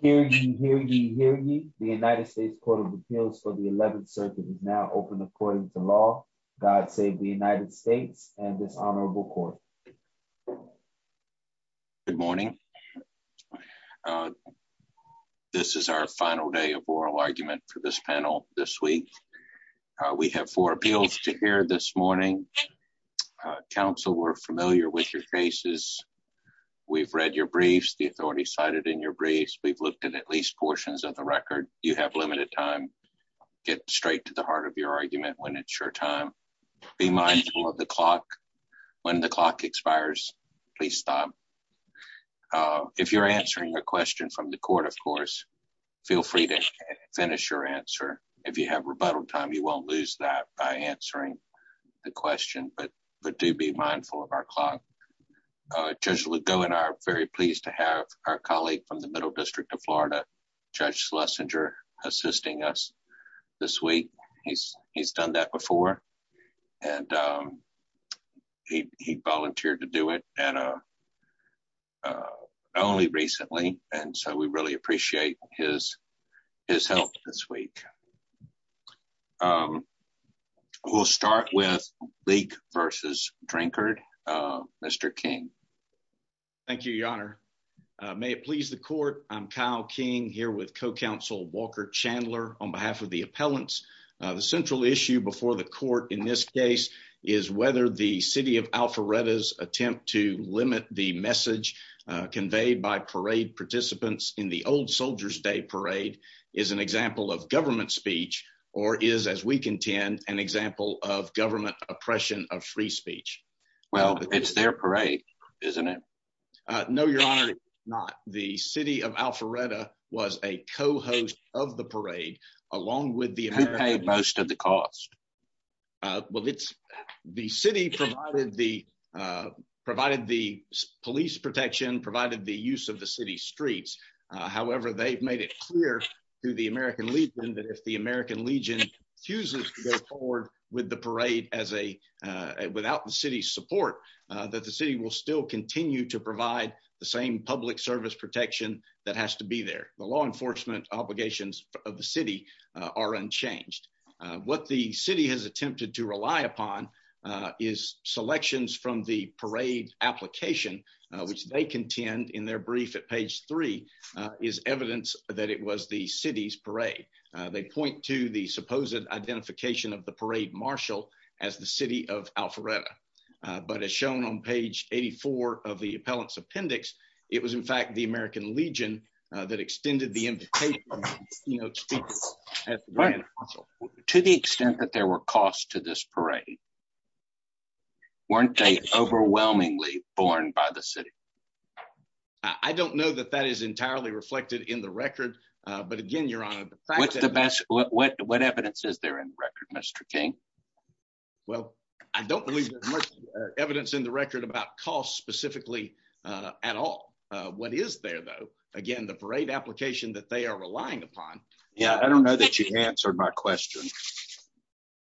Hear ye, hear ye, hear ye. The United States Court of Appeals for the 11th Circuit is now open according to law. God save the United States and this honorable court. Good morning. This is our final day of oral argument for this panel this week. We have four appeals to hear this morning. Council, we're familiar with your cases. We've read your briefs. The we've looked at at least portions of the record. You have limited time. Get straight to the heart of your argument when it's your time. Be mindful of the clock. When the clock expires, please stop. If you're answering a question from the court, of course, feel free to finish your answer. If you have rebuttal time, you won't lose that by answering the question, but do be mindful of our clock. Judge Lugo and I are very pleased to have our colleague from the Middle District of Florida, Judge Schlesinger, assisting us this week. He's done that before and he volunteered to do it only recently, and so we really appreciate his help this week. We'll start with Leak versus Drinkard. Mr. King. Thank you, your honor. May it please the court, I'm Kyle King here with co-counsel Walker Chandler on behalf of the appellants. The central issue before the court in this case is whether the city of Alpharetta's attempt to limit the message conveyed by parade participants in the old parade is an example of government speech or is, as we contend, an example of government oppression of free speech. Well, it's their parade, isn't it? No, your honor, it's not. The city of Alpharetta was a co-host of the parade along with the appellants. Who paid most of the cost? Well, the city provided the police protection, provided the use of the city streets. However, they've made it clear to the American Legion that if the American Legion refuses to go forward with the parade without the city's support, that the city will still continue to provide the same public service protection that has to be there. The law enforcement obligations of the city are unchanged. What the city has attempted to rely upon is selections from the page three is evidence that it was the city's parade. They point to the supposed identification of the parade marshal as the city of Alpharetta, but as shown on page 84 of the appellant's appendix, it was in fact the American Legion that extended the invitation. To the extent that there were costs to this parade, weren't they overwhelmingly borne by the city? I don't know that that is entirely reflected in the record, but again, your honor, what's the best what what evidence is there in the record, Mr. King? Well, I don't believe there's much evidence in the record about costs specifically at all. What is there though? Again, the parade application that they are relying upon. Yeah, I don't know that you answered my question.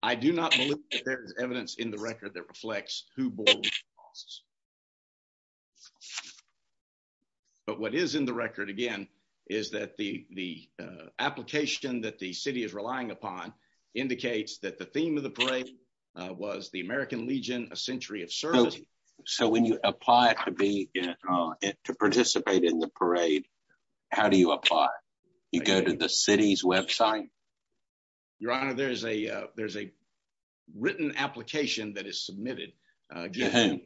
I do not believe that there is evidence in the record that reflects who bore the costs, but what is in the record again is that the the application that the city is relying upon indicates that the theme of the parade was the American Legion, a century of service. So when you apply to participate in the parade, how do you apply? You go to the city's website? Your honor, there's a written application that is submitted to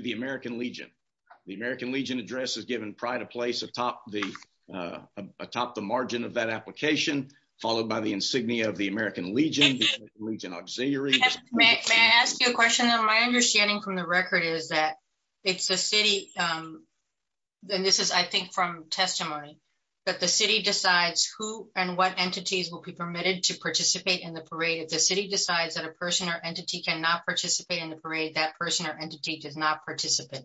the American Legion. The American Legion address is given prior to place atop the margin of that application, followed by the insignia of the American Legion, the American Legion Auxiliary. May I ask you a question? My understanding from the record is that it's the city, and this is I think from testimony, that the city decides who and what entities will be permitted to participate in the parade. If the city decides that a person or entity cannot participate in the parade, that person or entity does not participate.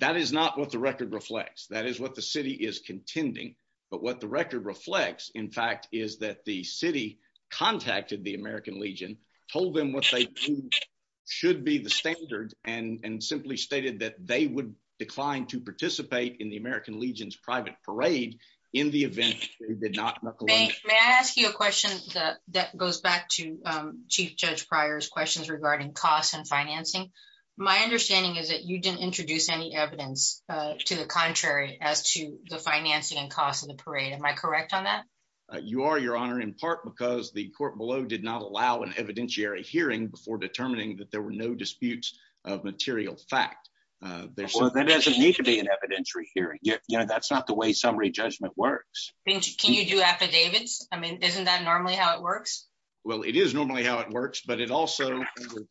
That is not what the record reflects. That is what the city is contending, but what the record reflects in fact is that the city contacted the American Legion, told them what they thought should be the standard, and simply stated that they would decline to participate in the American Legion's private parade in the event they did not. May I ask you a question that goes back to Chief Judge Pryor's questions regarding costs and financing? My understanding is that you didn't introduce any evidence to the contrary as to the financing and cost of the parade. Am I correct on that? You are, your honor, in part because the before determining that there were no disputes of material fact. Well, that doesn't need to be an evidentiary hearing. That's not the way summary judgment works. Can you do affidavits? I mean, isn't that normally how it works? Well, it is normally how it works, but it also,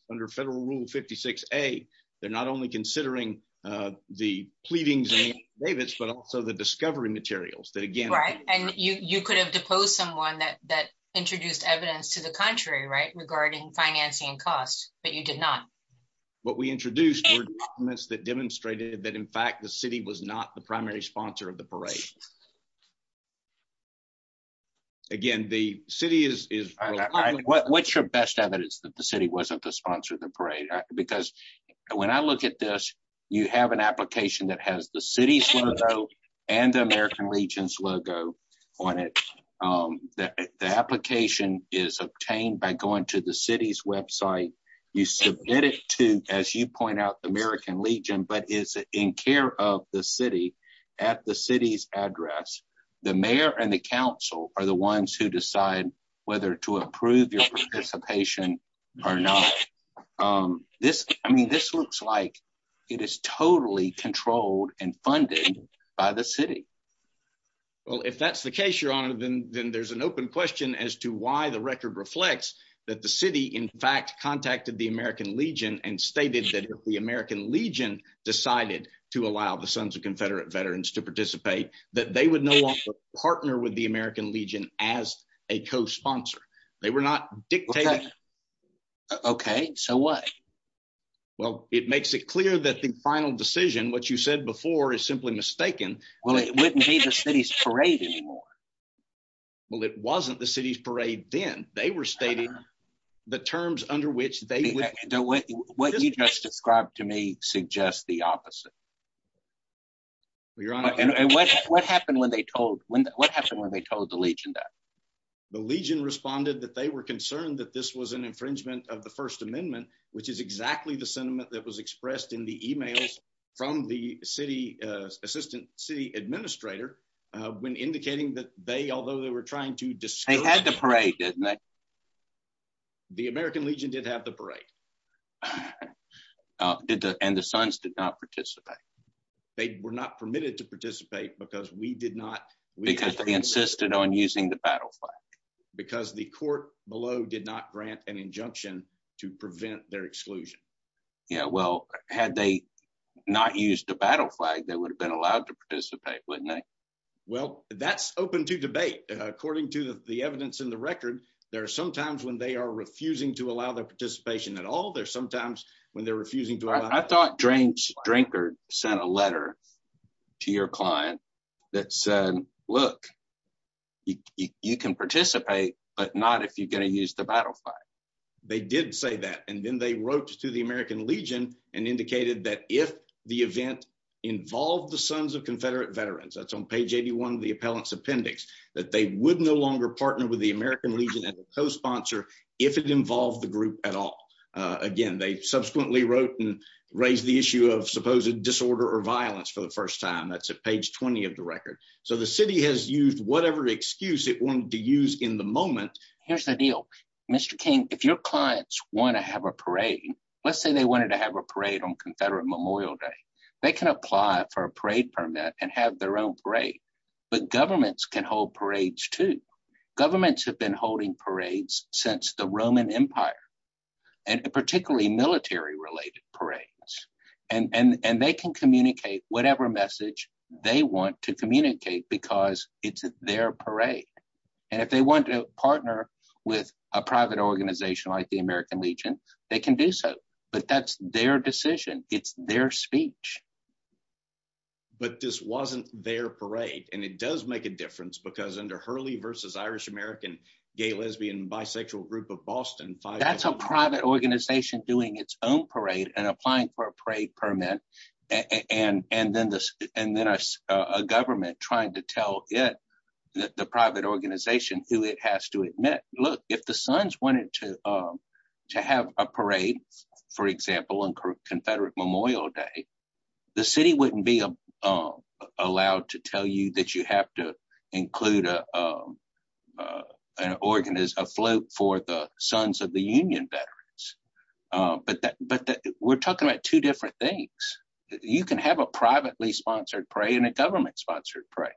under Federal Rule 56A, they're not only considering the pleadings and affidavits, but also the discovery materials that again- Right, and you could have deposed someone that introduced evidence to the contrary, regarding financing and cost, but you did not. What we introduced were documents that demonstrated that in fact the city was not the primary sponsor of the parade. Again, the city is- What's your best evidence that the city wasn't the sponsor of the parade? Because when I look at this, you have an application that has the city's logo and the American Legion's logo on it. The application is obtained by going to the city's website. You submit it to, as you point out, the American Legion, but is in care of the city at the city's address. The mayor and the council are the ones who decide whether to approve your participation or not. I mean, this looks like it is totally controlled and funded by the city. Well, if that's the case, your honor, then there's an open question as to why the record reflects that the city in fact contacted the American Legion and stated that if the American Legion decided to allow the Sons of Confederate Veterans to participate, that they would no longer partner with the American Legion as a co-sponsor. They were not dictating- Okay, so what? Well, it makes it clear that the final decision, what you said before, is simply mistaken. Well, it wouldn't be the city's parade anymore. Well, it wasn't the city's parade then. They were stating the terms under which they- What you just described to me suggests the opposite. What happened when they told the Legion that? The Legion responded that they were concerned that this was an infringement of the First Amendment, which is exactly the sentiment that was expressed in the emails from the assistant city administrator when indicating that they, although they were trying to discourage- They had the parade, didn't they? The American Legion did have the parade. And the Sons did not participate. They were not permitted to participate because we did not- Because they insisted on using the battle flag. Because the court below did not grant an injunction to prevent their exclusion. Yeah, well, had they not used the battle flag, they would have been allowed to participate, wouldn't they? Well, that's open to debate. According to the evidence in the record, there are some times when they are refusing to allow their participation at all. There are some times when they're refusing to allow- I thought James Drinkard sent a letter to your client that said, look, you can participate, but not if you're going to use the battle flag. They did say that. And then they wrote to the American Legion and indicated that if the event involved the Sons of Confederate Veterans, that's on page 81 of the appellant's appendix, that they would no longer partner with the American Legion as a co-sponsor if it involved the group at all. Again, they subsequently wrote and raised the issue of supposed disorder or violence for the first time. That's at page 20 of the record. So the city has used whatever excuse it wanted to use in the moment. Here's the deal. Mr. King, if your clients want to have a parade, let's say they wanted to have a parade on Confederate Memorial Day, they can apply for a parade permit and have their own parade. But governments can hold parades too. Governments have been holding parades since the Roman Empire, and particularly military-related parades. And they can communicate whatever message they want to communicate because it's their parade. And if they want to partner with a private organization like the American Legion, they can do so. But that's their decision. It's their speech. But this wasn't their parade, and it does make a difference because under Hurley v. Irish American Gay, Lesbian, and Bisexual Group of Boston- That's a private organization doing its own parade and applying for a parade permit, and then a government trying to tell the private organization who it has to admit. Look, if the Sons wanted to have a parade, for example, on Confederate Memorial Day, the city wouldn't be allowed to tell you that you have to include an organist, a float for the Sons of the Union veterans. But we're talking about two different things. You can have a privately-sponsored parade and a government-sponsored parade.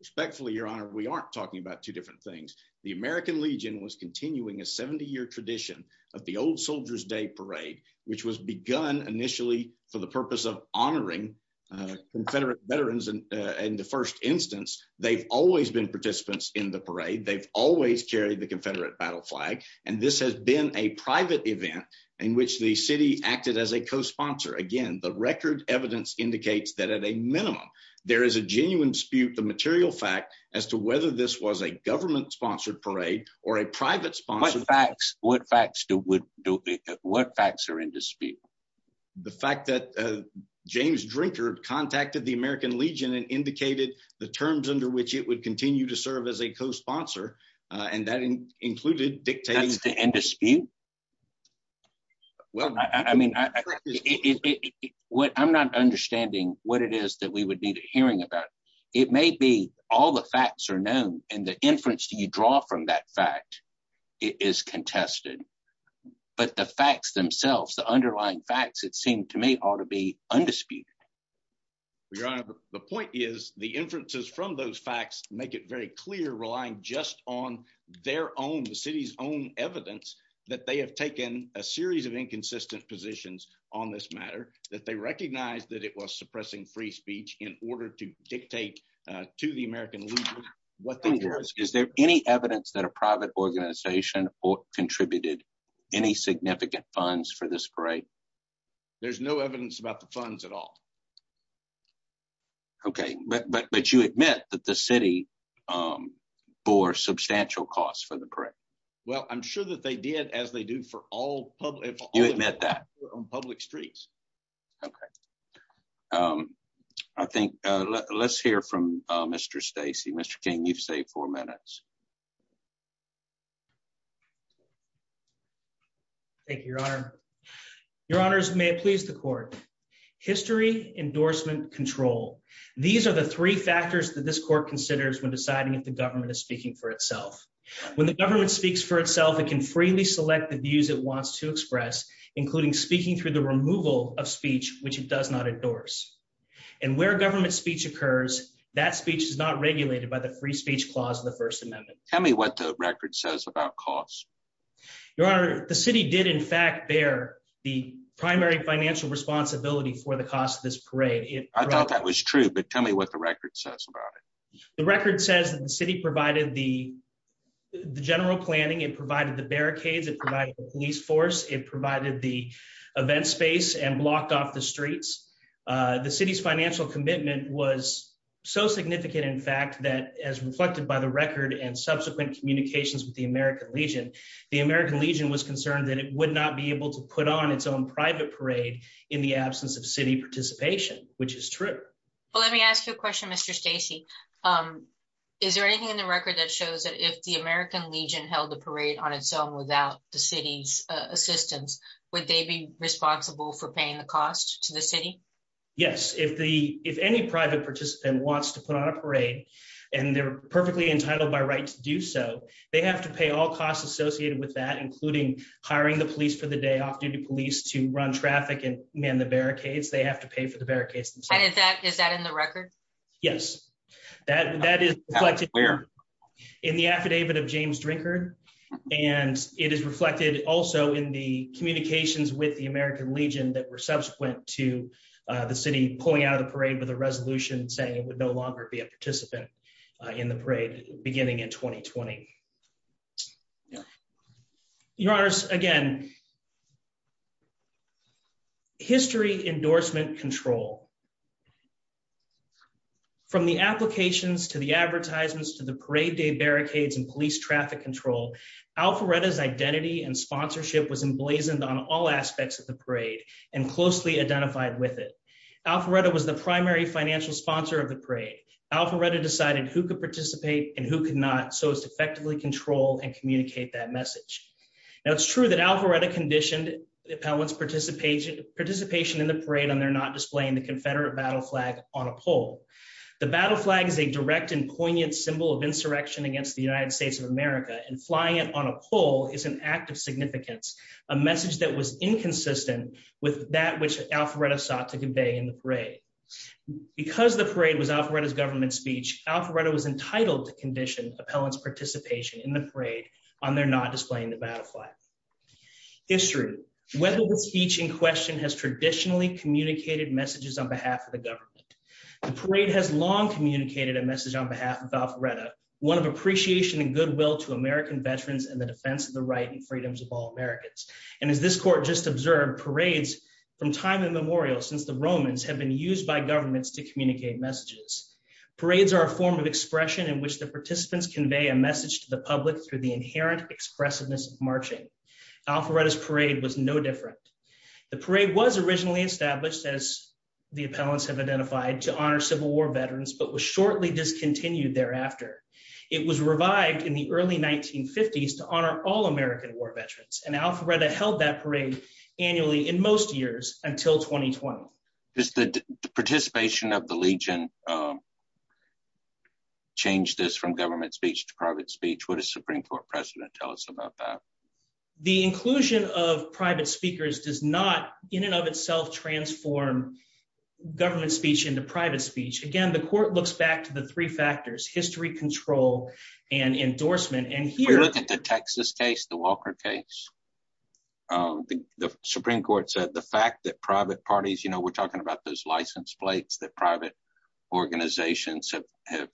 Respectfully, Your Honor, we aren't talking about two different things. The American Legion was continuing a 70-year tradition of the Old Soldier's Day Parade, which was begun initially for the purpose of honoring Confederate veterans in the first instance. They've always been participants in the parade. They've always carried the Confederate battle flag. And this has been a private event in which the city acted as a co-sponsor. Again, the record evidence indicates that, at a minimum, there is a genuine dispute, the material fact, as to whether this was a government-sponsored parade or a private-sponsored parade. What facts are in dispute? The fact that James Drinkard contacted the American Legion and indicated the terms under which it would continue to serve as a co-sponsor, and that included dictating- That's the end dispute? Well, I mean, I'm not understanding what it is that we would need a hearing about. It may be all the facts are known, and the inference you draw from that fact is contested. But the facts themselves, the underlying facts, it seemed to me, ought to be undisputed. Well, Your Honor, the point is the inferences from those facts make it very clear, relying just on their own, the city's own evidence, that they have taken a series of inconsistent positions on this matter, that they recognized that it was suppressing free speech in order to dictate to the American Legion what the- Is there any evidence that a private organization contributed any significant funds for this parade? There's no evidence about the funds at all. Okay, but you admit that the city bore substantial costs for the parade. Well, I'm sure that they did, as they do for all public- You admit that? On public streets. Okay. I think, let's hear from Mr. Stacey. Mr. King, you've saved four minutes. Thank you, Your Honor. Your Honors, may it please the court. History, endorsement, control. These are the three factors that this court considers when deciding if the government is speaking for itself. When the government speaks for itself, it can freely select the views it wants to express, including speaking through the removal of speech, which it does not endorse. And where government speech occurs, that speech is not regulated by the Free Speech Clause of the First Amendment. Tell me what the record says about costs. Your Honor, the city did, in fact, bear the primary financial responsibility for the cost of this parade. I thought that was true, but tell me what the record says about it. The record says that the city provided the general planning, it provided the barricades, it provided the police force, it provided the event space and blocked off the streets. The city's financial commitment was so significant, in fact, that as reflected by the record and subsequent communications with the American Legion, the American Legion was concerned that it would not be able to put on its own private parade in the absence of city participation, which is true. Well, let me ask you a question, Mr. Stacey. Is there anything in the record that shows that if the American Legion held the parade on its own without the city's assistance, would they be responsible for paying the cost to the city? Yes, if any private participant wants to put on a parade and they're perfectly entitled by right to do so, they have to pay all costs associated with that, including hiring the police for the day, off-duty police to run traffic and man the barricades, they have to pay for the barricades themselves. Is that in the record? Yes, that is reflected in the affidavit of James Drinkard, and it is reflected also in the communications with the American Legion that were subsequent to the city pulling out of the parade with a resolution saying it would no longer be a participant in the parade beginning in 2020. Your Honors, again, history endorsement control. From the applications to the advertisements to the parade day barricades and police traffic control, Alpharetta's identity and sponsorship was emblazoned on all aspects of the parade and closely identified with it. Alpharetta was the primary financial sponsor of the parade. Alpharetta decided who could participate and who could not, so as to effectively control and communicate that message. Now, it's true that Alpharetta conditioned the appellant's participation in the parade on their not displaying the Confederate battle flag on a pole. The battle flag is a direct and poignant symbol of insurrection against the United States of America, and flying it on a pole is an act of significance, a message that was inconsistent with that which Alpharetta sought to convey in the parade. Because the parade was Alpharetta's government speech, Alpharetta was entitled to condition appellant's participation in the parade on their not displaying the battle flag. History, whether the speech in question has traditionally communicated messages on behalf of the government. The parade has long communicated a message on behalf of Alpharetta, one of appreciation and goodwill to American veterans and the defense of the right and freedoms of all Americans. And as this court just observed, parades from time immemorial since the Romans have been used by governments to communicate messages. Parades are a form of expression in which the participants convey a message to the public through the inherent expressiveness of marching. Alpharetta's parade was no different. The parade was originally established as the appellants have identified to honor civil war veterans, but was shortly discontinued thereafter. It was revived in the early 1950s to honor all American war veterans. And Alpharetta held that parade annually in most years until 2020. Does the participation of the Legion change this from government speech to private speech? What does Supreme Court precedent tell us about that? The inclusion of private speakers does not in and of itself transform government speech into private speech. Again, the court looks back to the three factors, history, control, and endorsement. And here- We look at the Texas case, the Walker case. The Supreme Court said the fact that private parties, we're talking about those license plates that private organizations have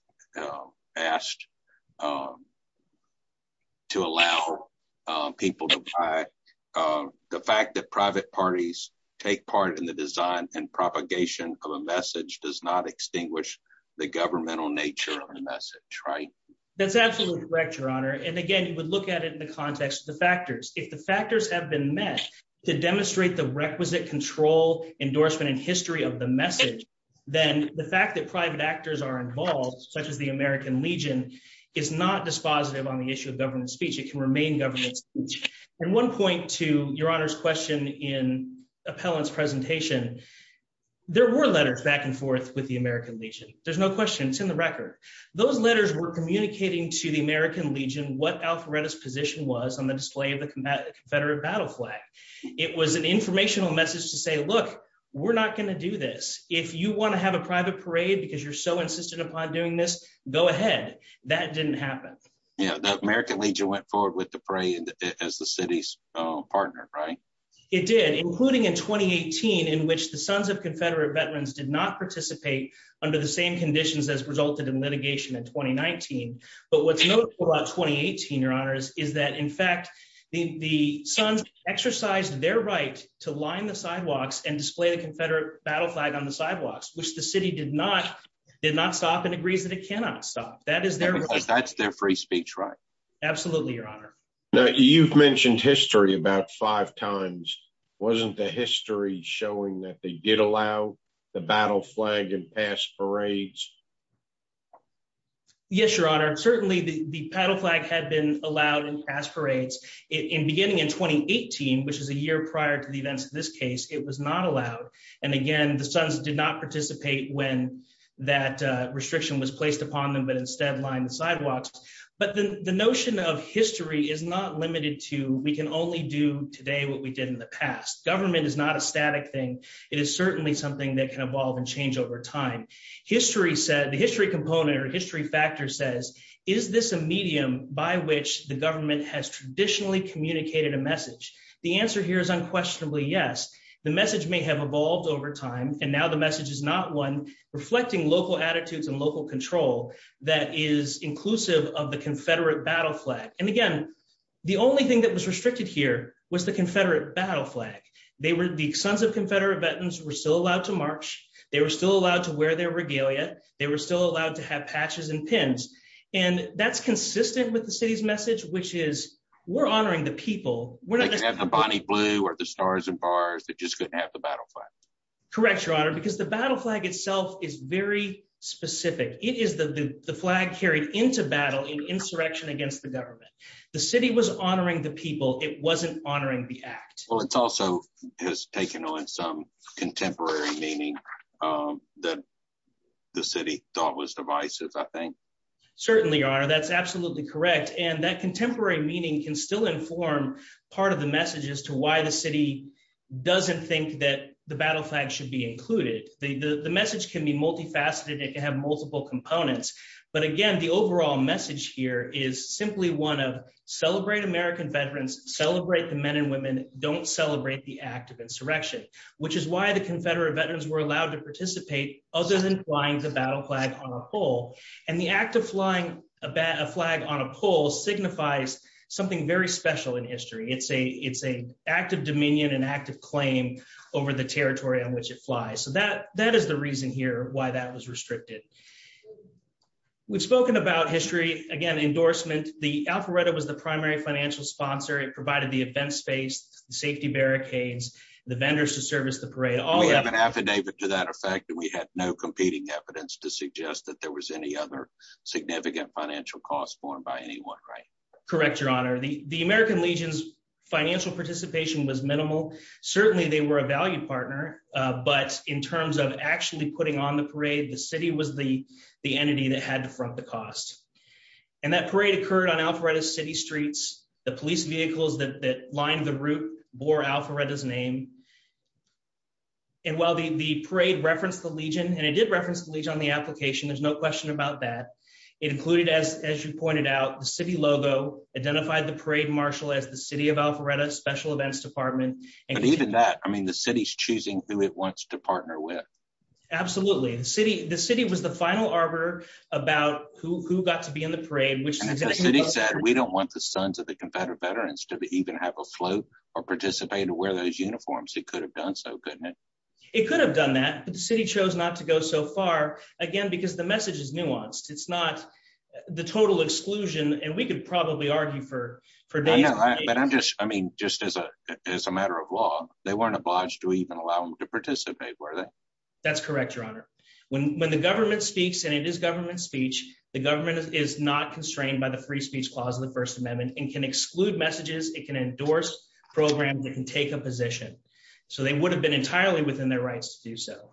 asked to allow people to buy. The fact that private parties take part in the design and propagation of a message does not extinguish the governmental nature of the message, right? That's absolutely correct, Your Honor. And again, you would look at it in the context of the factors. If the factors have been met to demonstrate the requisite control, endorsement, and history of the message, then the fact that private actors are involved, such as the American Legion, is not dispositive on the issue of government speech. It can remain government speech. And one point to Your Honor's question in Appellant's presentation, there were letters back and forth with the American Legion. There's no question, it's in the record. Those letters were communicating to the American Legion what Alpharetta's position was on the display of the Confederate battle flag. It was an informational message to say, look, we're not gonna do this. If you wanna have a private parade because you're so insistent upon doing this, go ahead. That didn't happen. Yeah, the American Legion went forward with the parade as the city's partner, right? It did, including in 2018, in which the Sons of Confederate Veterans did not participate under the same conditions as resulted in litigation in 2019. But what's notable about 2018, Your Honors, is that in fact, the Sons exercised their right to line the sidewalks and display the Confederate battle flag on the sidewalks, which the city did not stop and agrees that it cannot stop. That is their- That's their free speech, right? Absolutely, Your Honor. Now, you've mentioned history about five times. Wasn't the history showing that they did allow the battle flag in past parades? Yes, Your Honor. Certainly, the battle flag had been allowed in past parades beginning in 2018, which is a year prior to the events of this case. It was not allowed. And again, the Sons did not participate when that restriction was placed upon them, but instead lined the sidewalks. But the notion of history is not limited to we can only do today what we did in the past. Government is not a static thing. It is certainly something that can evolve and change over time. is this a medium by which the government has traditionally communicated a message? The answer here is unquestionably yes. The message may have evolved over time, and now the message is not one reflecting local attitudes and local control that is inclusive of the Confederate battle flag. And again, the only thing that was restricted here was the Confederate battle flag. They were the Sons of Confederate Veterans were still allowed to march. They were still allowed to wear their regalia. They were still allowed to have patches and pins. And that's consistent with the city's message, which is we're honoring the people. They could have the Bonnie Blue or the Stars and Bars. They just couldn't have the battle flag. Correct, Your Honor, because the battle flag itself is very specific. It is the flag carried into battle in insurrection against the government. The city was honoring the people. It wasn't honoring the act. Well, it's also has taken on some contemporary meaning that the city thought was divisive, I think. Certainly, Your Honor, that's absolutely correct. And that contemporary meaning can still inform part of the message as to why the city doesn't think that the battle flag should be included. The message can be multifaceted. It can have multiple components. But again, the overall message here is simply one of celebrate American veterans, celebrate the men and women, don't celebrate the act of insurrection, which is why the Confederate veterans were allowed to participate other than flying the battle flag on a pole. And the act of flying a flag on a pole signifies something very special in history. It's an act of dominion and act of claim over the territory on which it flies. So that is the reason here why that was restricted. We've spoken about history, again, endorsement. The Alpharetta was the primary financial sponsor. It provided the event space, the safety barricades, the vendors to service the parade. We have an affidavit to that effect. We had no competing evidence to suggest that there was any other significant financial cost borne by anyone, right? Correct, Your Honor. The American Legion's financial participation was minimal. Certainly they were a value partner, but in terms of actually putting on the parade, the city was the entity that had to front the cost. And that parade occurred on Alpharetta's city streets. The police vehicles that lined the route bore Alpharetta's name. And while the parade referenced the Legion, and it did reference the Legion on the application, there's no question about that. It included, as you pointed out, the city logo, identified the parade marshal as the City of Alpharetta Special Events Department. And even that, I mean, the city's choosing who it wants to partner with. Absolutely. The city was the final arbiter about who got to be in the parade, which- And the city said, we don't want the sons of the Confederate veterans to even have a float or participate and wear those uniforms. It could have done so, couldn't it? It could have done that, but the city chose not to go so far, again, because the message is nuanced. It's not the total exclusion, and we could probably argue for days- I know, but I'm just, I mean, just as a matter of law, they weren't obliged to even allow them to participate, were they? That's correct, Your Honor. When the government speaks, and it is government speech, the government is not constrained by the Free Speech Clause of the First Amendment and can exclude messages, it can endorse programs, it can take a position. So they would have been entirely within their rights to do so.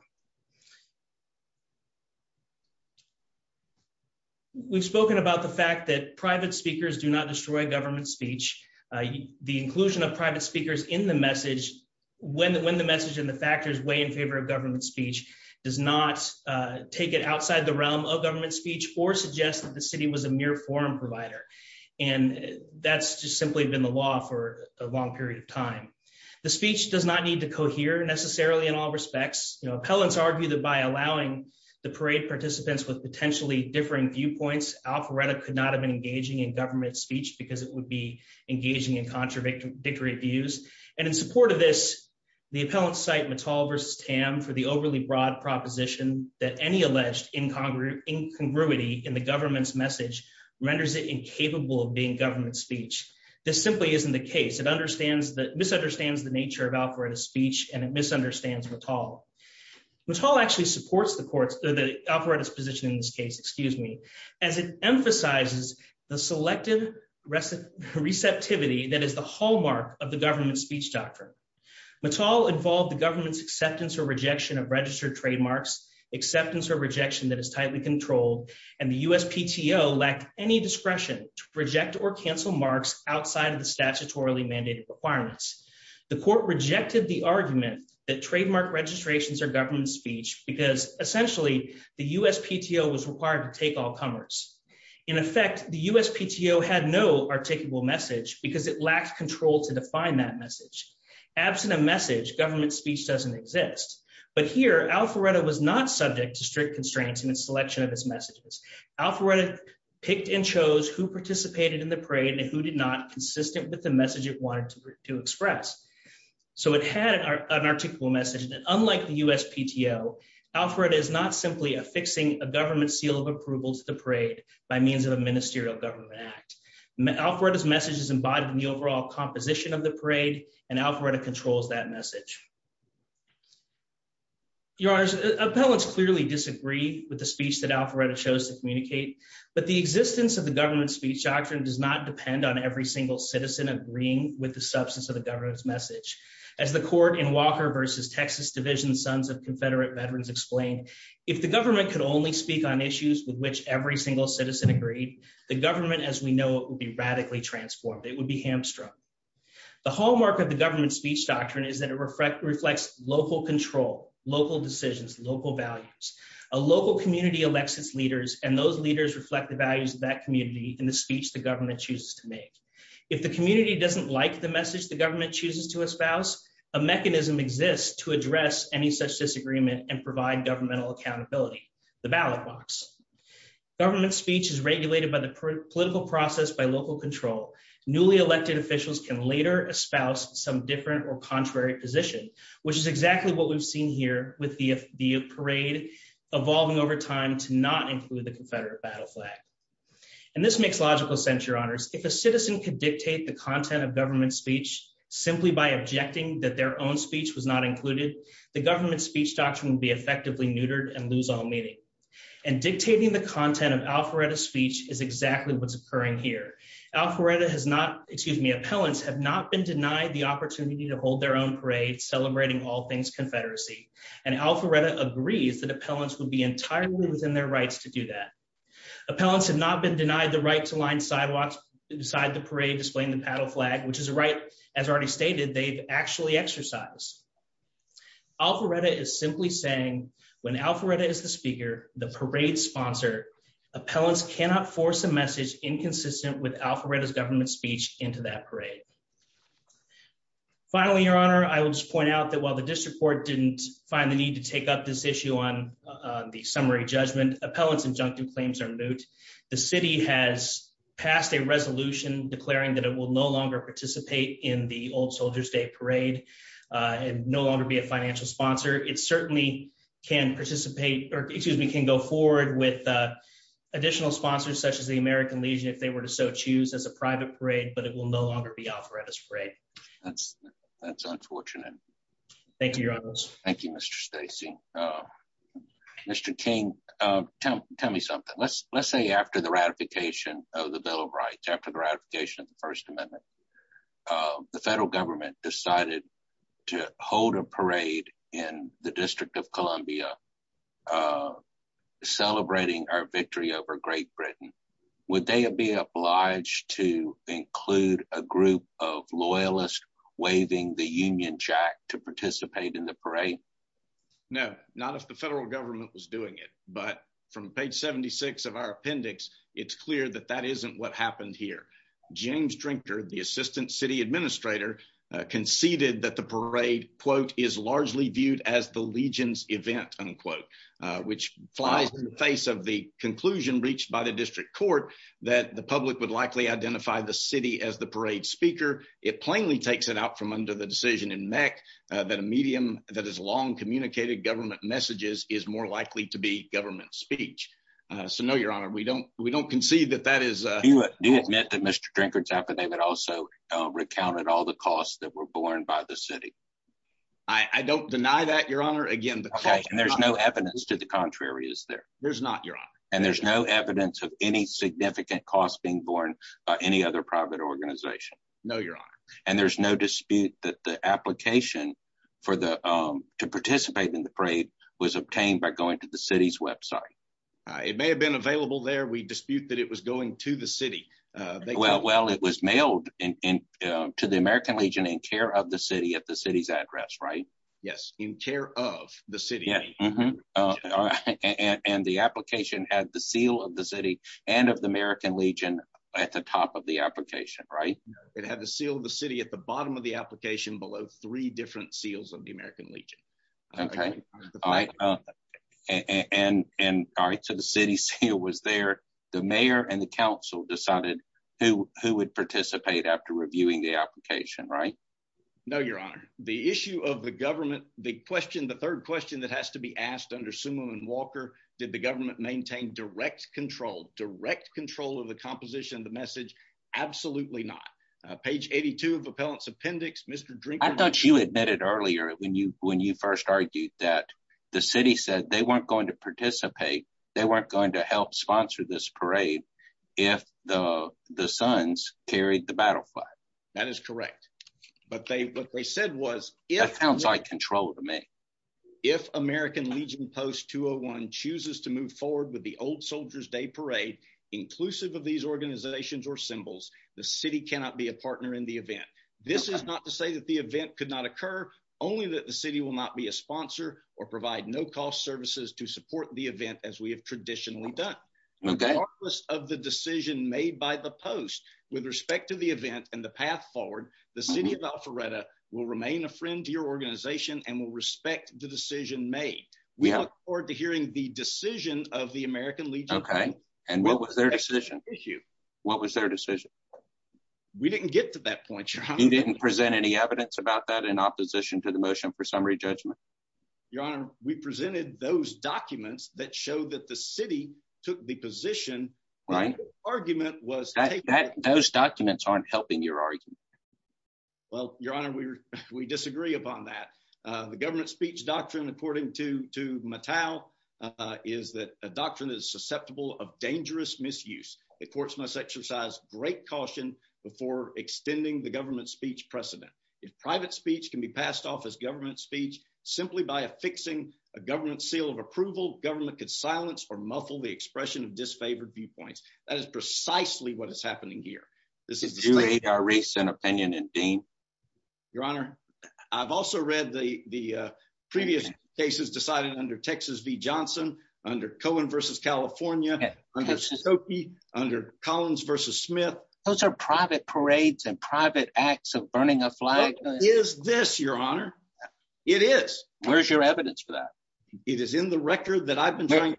We've spoken about the fact that private speakers do not destroy government speech. The inclusion of private speakers in the message, when the message and the factors weigh in favor of government speech, does not take it outside the realm of government speech or suggest that the city was a mere forum provider. And that's just simply been the law for a long period of time. The speech does not need to cohere, necessarily, in all respects. Appellants argue that by allowing the parade participants with potentially differing viewpoints, Alpharetta could not have been engaging in government speech because it would be engaging in contradictory views. And in support of this, the appellants cite Mattal v. Tam for the overly broad proposition that any alleged incongruity in the government's message renders it incapable of being government speech. This simply isn't the case. It misunderstands the nature of Alpharetta's speech and it misunderstands Mattal. Mattal actually supports the courts, the Alpharetta's position in this case, excuse me, as it emphasizes the selective receptivity that is the hallmark of the government speech doctrine. Mattal involved the government's acceptance or rejection of registered trademarks, acceptance or rejection that is tightly controlled. And the USPTO lacked any discretion to reject or cancel marks outside of the statutorily mandated requirements. The court rejected the argument that trademark registrations are government speech because essentially the USPTO was required to take all comers. In effect, the USPTO had no articulable message because it lacked control to define that message. Absent a message, government speech doesn't exist. But here Alpharetta was not subject to strict constraints in its selection of its messages. Alpharetta picked and chose who participated in the parade and who did not consistent with the message it wanted to express. So it had an articulable message that unlike the USPTO, Alpharetta is not simply affixing a government seal of approval to the parade by means of a ministerial government act. Alpharetta's message is embodied in the overall composition of the parade and Alpharetta controls that message. Your honors, appellants clearly disagree with the speech that Alpharetta chose to communicate. But the existence of the government speech doctrine does not depend on every single citizen agreeing with the substance of the government's message. As the court in Walker versus Texas Division Sons of Confederate Veterans explained, if the government could only speak on issues with which every single citizen agreed, the government, as we know, it would be radically transformed. It would be hamstrung. The hallmark of the government speech doctrine is that it reflects local control, local decisions, local values. A local community elects its leaders and those leaders reflect the values of that community in the speech the government chooses to make. If the community doesn't like the message the government chooses to espouse, a mechanism exists to address any such disagreement and provide governmental accountability, the ballot box. Government speech is regulated by the political process by local control. Newly elected officials can later espouse some different or contrary position, which is exactly what we've seen here with the parade evolving over time to not include the Confederate battle flag. And this makes logical sense, your honors. If a citizen could dictate the content of government speech simply by objecting that their own speech was not included, the government speech doctrine would be effectively neutered and lose all meaning. And dictating the content of Alpharetta's speech is exactly what's occurring here. Alpharetta has not, excuse me, appellants have not been denied the opportunity to hold their own parade celebrating all things Confederacy. And Alpharetta agrees that appellants would be entirely within their rights to do that. Appellants have not been denied the right to line sidewalks inside the parade displaying the battle flag, which is a right, as already stated, they've actually exercised. Alpharetta is simply saying when Alpharetta is the speaker, the parade sponsor, appellants cannot force a message inconsistent with Alpharetta's government speech into that parade. Finally, your honor, I will just point out that while the district court didn't find the need to take up this issue on the summary judgment, appellants injunctive claims are moot. The city has passed a resolution declaring that it will no longer participate in the old Soldier's Day parade and no longer be a financial sponsor. It certainly can participate or excuse me, can go forward with additional sponsors, such as the American Legion, if they were to so choose as a private parade, but it will no longer be Alpharetta's parade. That's unfortunate. Thank you, your honor. Thank you, Mr. Stacey. Mr. King, tell me something. Let's say after the ratification of the Bill of Rights, after the ratification of the First Amendment, the federal government decided to hold a parade in the District of Columbia celebrating our victory over Great Britain. Would they be obliged to include a group of loyalists waving the Union Jack to participate in the parade? No, not if the federal government was doing it. But from page 76 of our appendix, it's clear that that isn't what happened here. James Drinker, the Assistant City Administrator, conceded that the parade, quote, is largely viewed as the Legion's event, unquote, which flies in the face of the conclusion reached by the district court that the public would likely identify the city as the parade speaker. It plainly takes it out from under the decision in MEC that a medium that has long communicated government messages is more likely to be government speech. So no, your honor, we don't we don't concede that that is. Do you admit that Mr. Drinker's affidavit also recounted all the costs that were borne by the city? I don't deny that, your honor. Again, there's no evidence to the contrary, is there? There's not, your honor. And there's no evidence of any significant costs being borne by any other private organization. No, your honor. And there's no dispute that the application for the to participate in the parade was obtained by going to the city's website. It may have been available there. We dispute that it was going to the city. Well, it was mailed to the American Legion in care of the city at the city's address, right? Yes, in care of the city. And the application had the seal of the city and of the American Legion at the top of the application, right? It had the seal of the city at the bottom of the application, below three different seals of the American Legion. OK, all right. And so the city seal was there. The mayor and the council decided who who would participate after reviewing the application, right? No, your honor. The issue of the government, the question, the third question that has to be asked under Sumo and Walker, did the government maintain direct control, direct control of the composition of the message? Absolutely not. Page 82 of Appellant's Appendix, Mr. Drink. I thought you admitted earlier when you when you first argued that the city said they weren't going to participate. They weren't going to help sponsor this parade. If the the sons carried the battle flag, that is correct. But they what they said was, it sounds like control to me. If American Legion Post 201 chooses to move forward with the Old Soldiers Day parade, inclusive of these organizations or symbols, the city cannot be a partner in the event. This is not to say that the event could not occur, only that the city will not be a sponsor or provide no cost services to support the event as we have traditionally done. Regardless of the decision made by the post with respect to the event and the path forward, the city of Alpharetta will remain a friend to your organization and will respect the decision made. We look forward to hearing the decision of the American Legion. OK, and what was their decision issue? What was their decision? We didn't get to that point. You didn't present any evidence about that in opposition to the motion for summary judgment. Your Honor, we presented those documents that show that the city took the position. Argument was that those documents aren't helping your argument. Well, Your Honor, we disagree upon that. The government speech doctrine, according to Mattel, is that a doctrine is susceptible of dangerous misuse. The courts must exercise great caution before extending the government speech precedent. If private speech can be passed off as government speech simply by affixing a government seal of approval, government could silence or muffle the expression of disfavored viewpoints. That is precisely what is happening here. This is to aid our recent opinion and being. Your Honor, I've also read the the previous cases decided under Texas v. Johnson, under Cohen versus California, under Collins versus Smith. Those are private parades and private acts of burning a flag. Is this your honor? It is. Where's your evidence for that? It is in the record that I've been trying.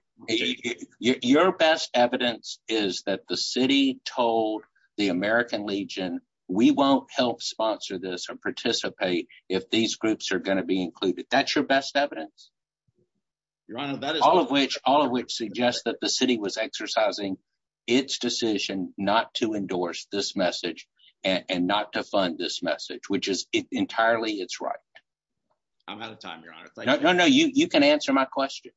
Your best evidence is that the city told the American Legion we won't help sponsor this or participate if these groups are going to be included. That's your best evidence. Your Honor, that is all of which all of which suggests that the city was exercising this message and not to fund this message, which is entirely it's right. I'm out of time, Your Honor. No, no, you can answer my question.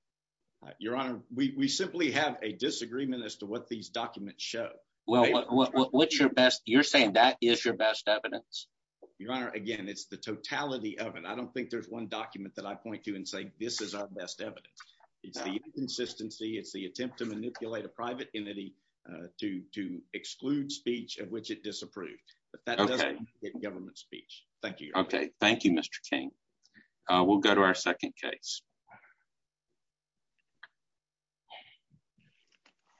Your Honor, we simply have a disagreement as to what these documents show. Well, what's your best? You're saying that is your best evidence. Your Honor, again, it's the totality of it. I don't think there's one document that I point to and say this is our best evidence. It's the inconsistency. It's the attempt to manipulate a private entity to exclude speech at which it disapproved. But that doesn't get government speech. Thank you. OK, thank you, Mr. King. We'll go to our second case.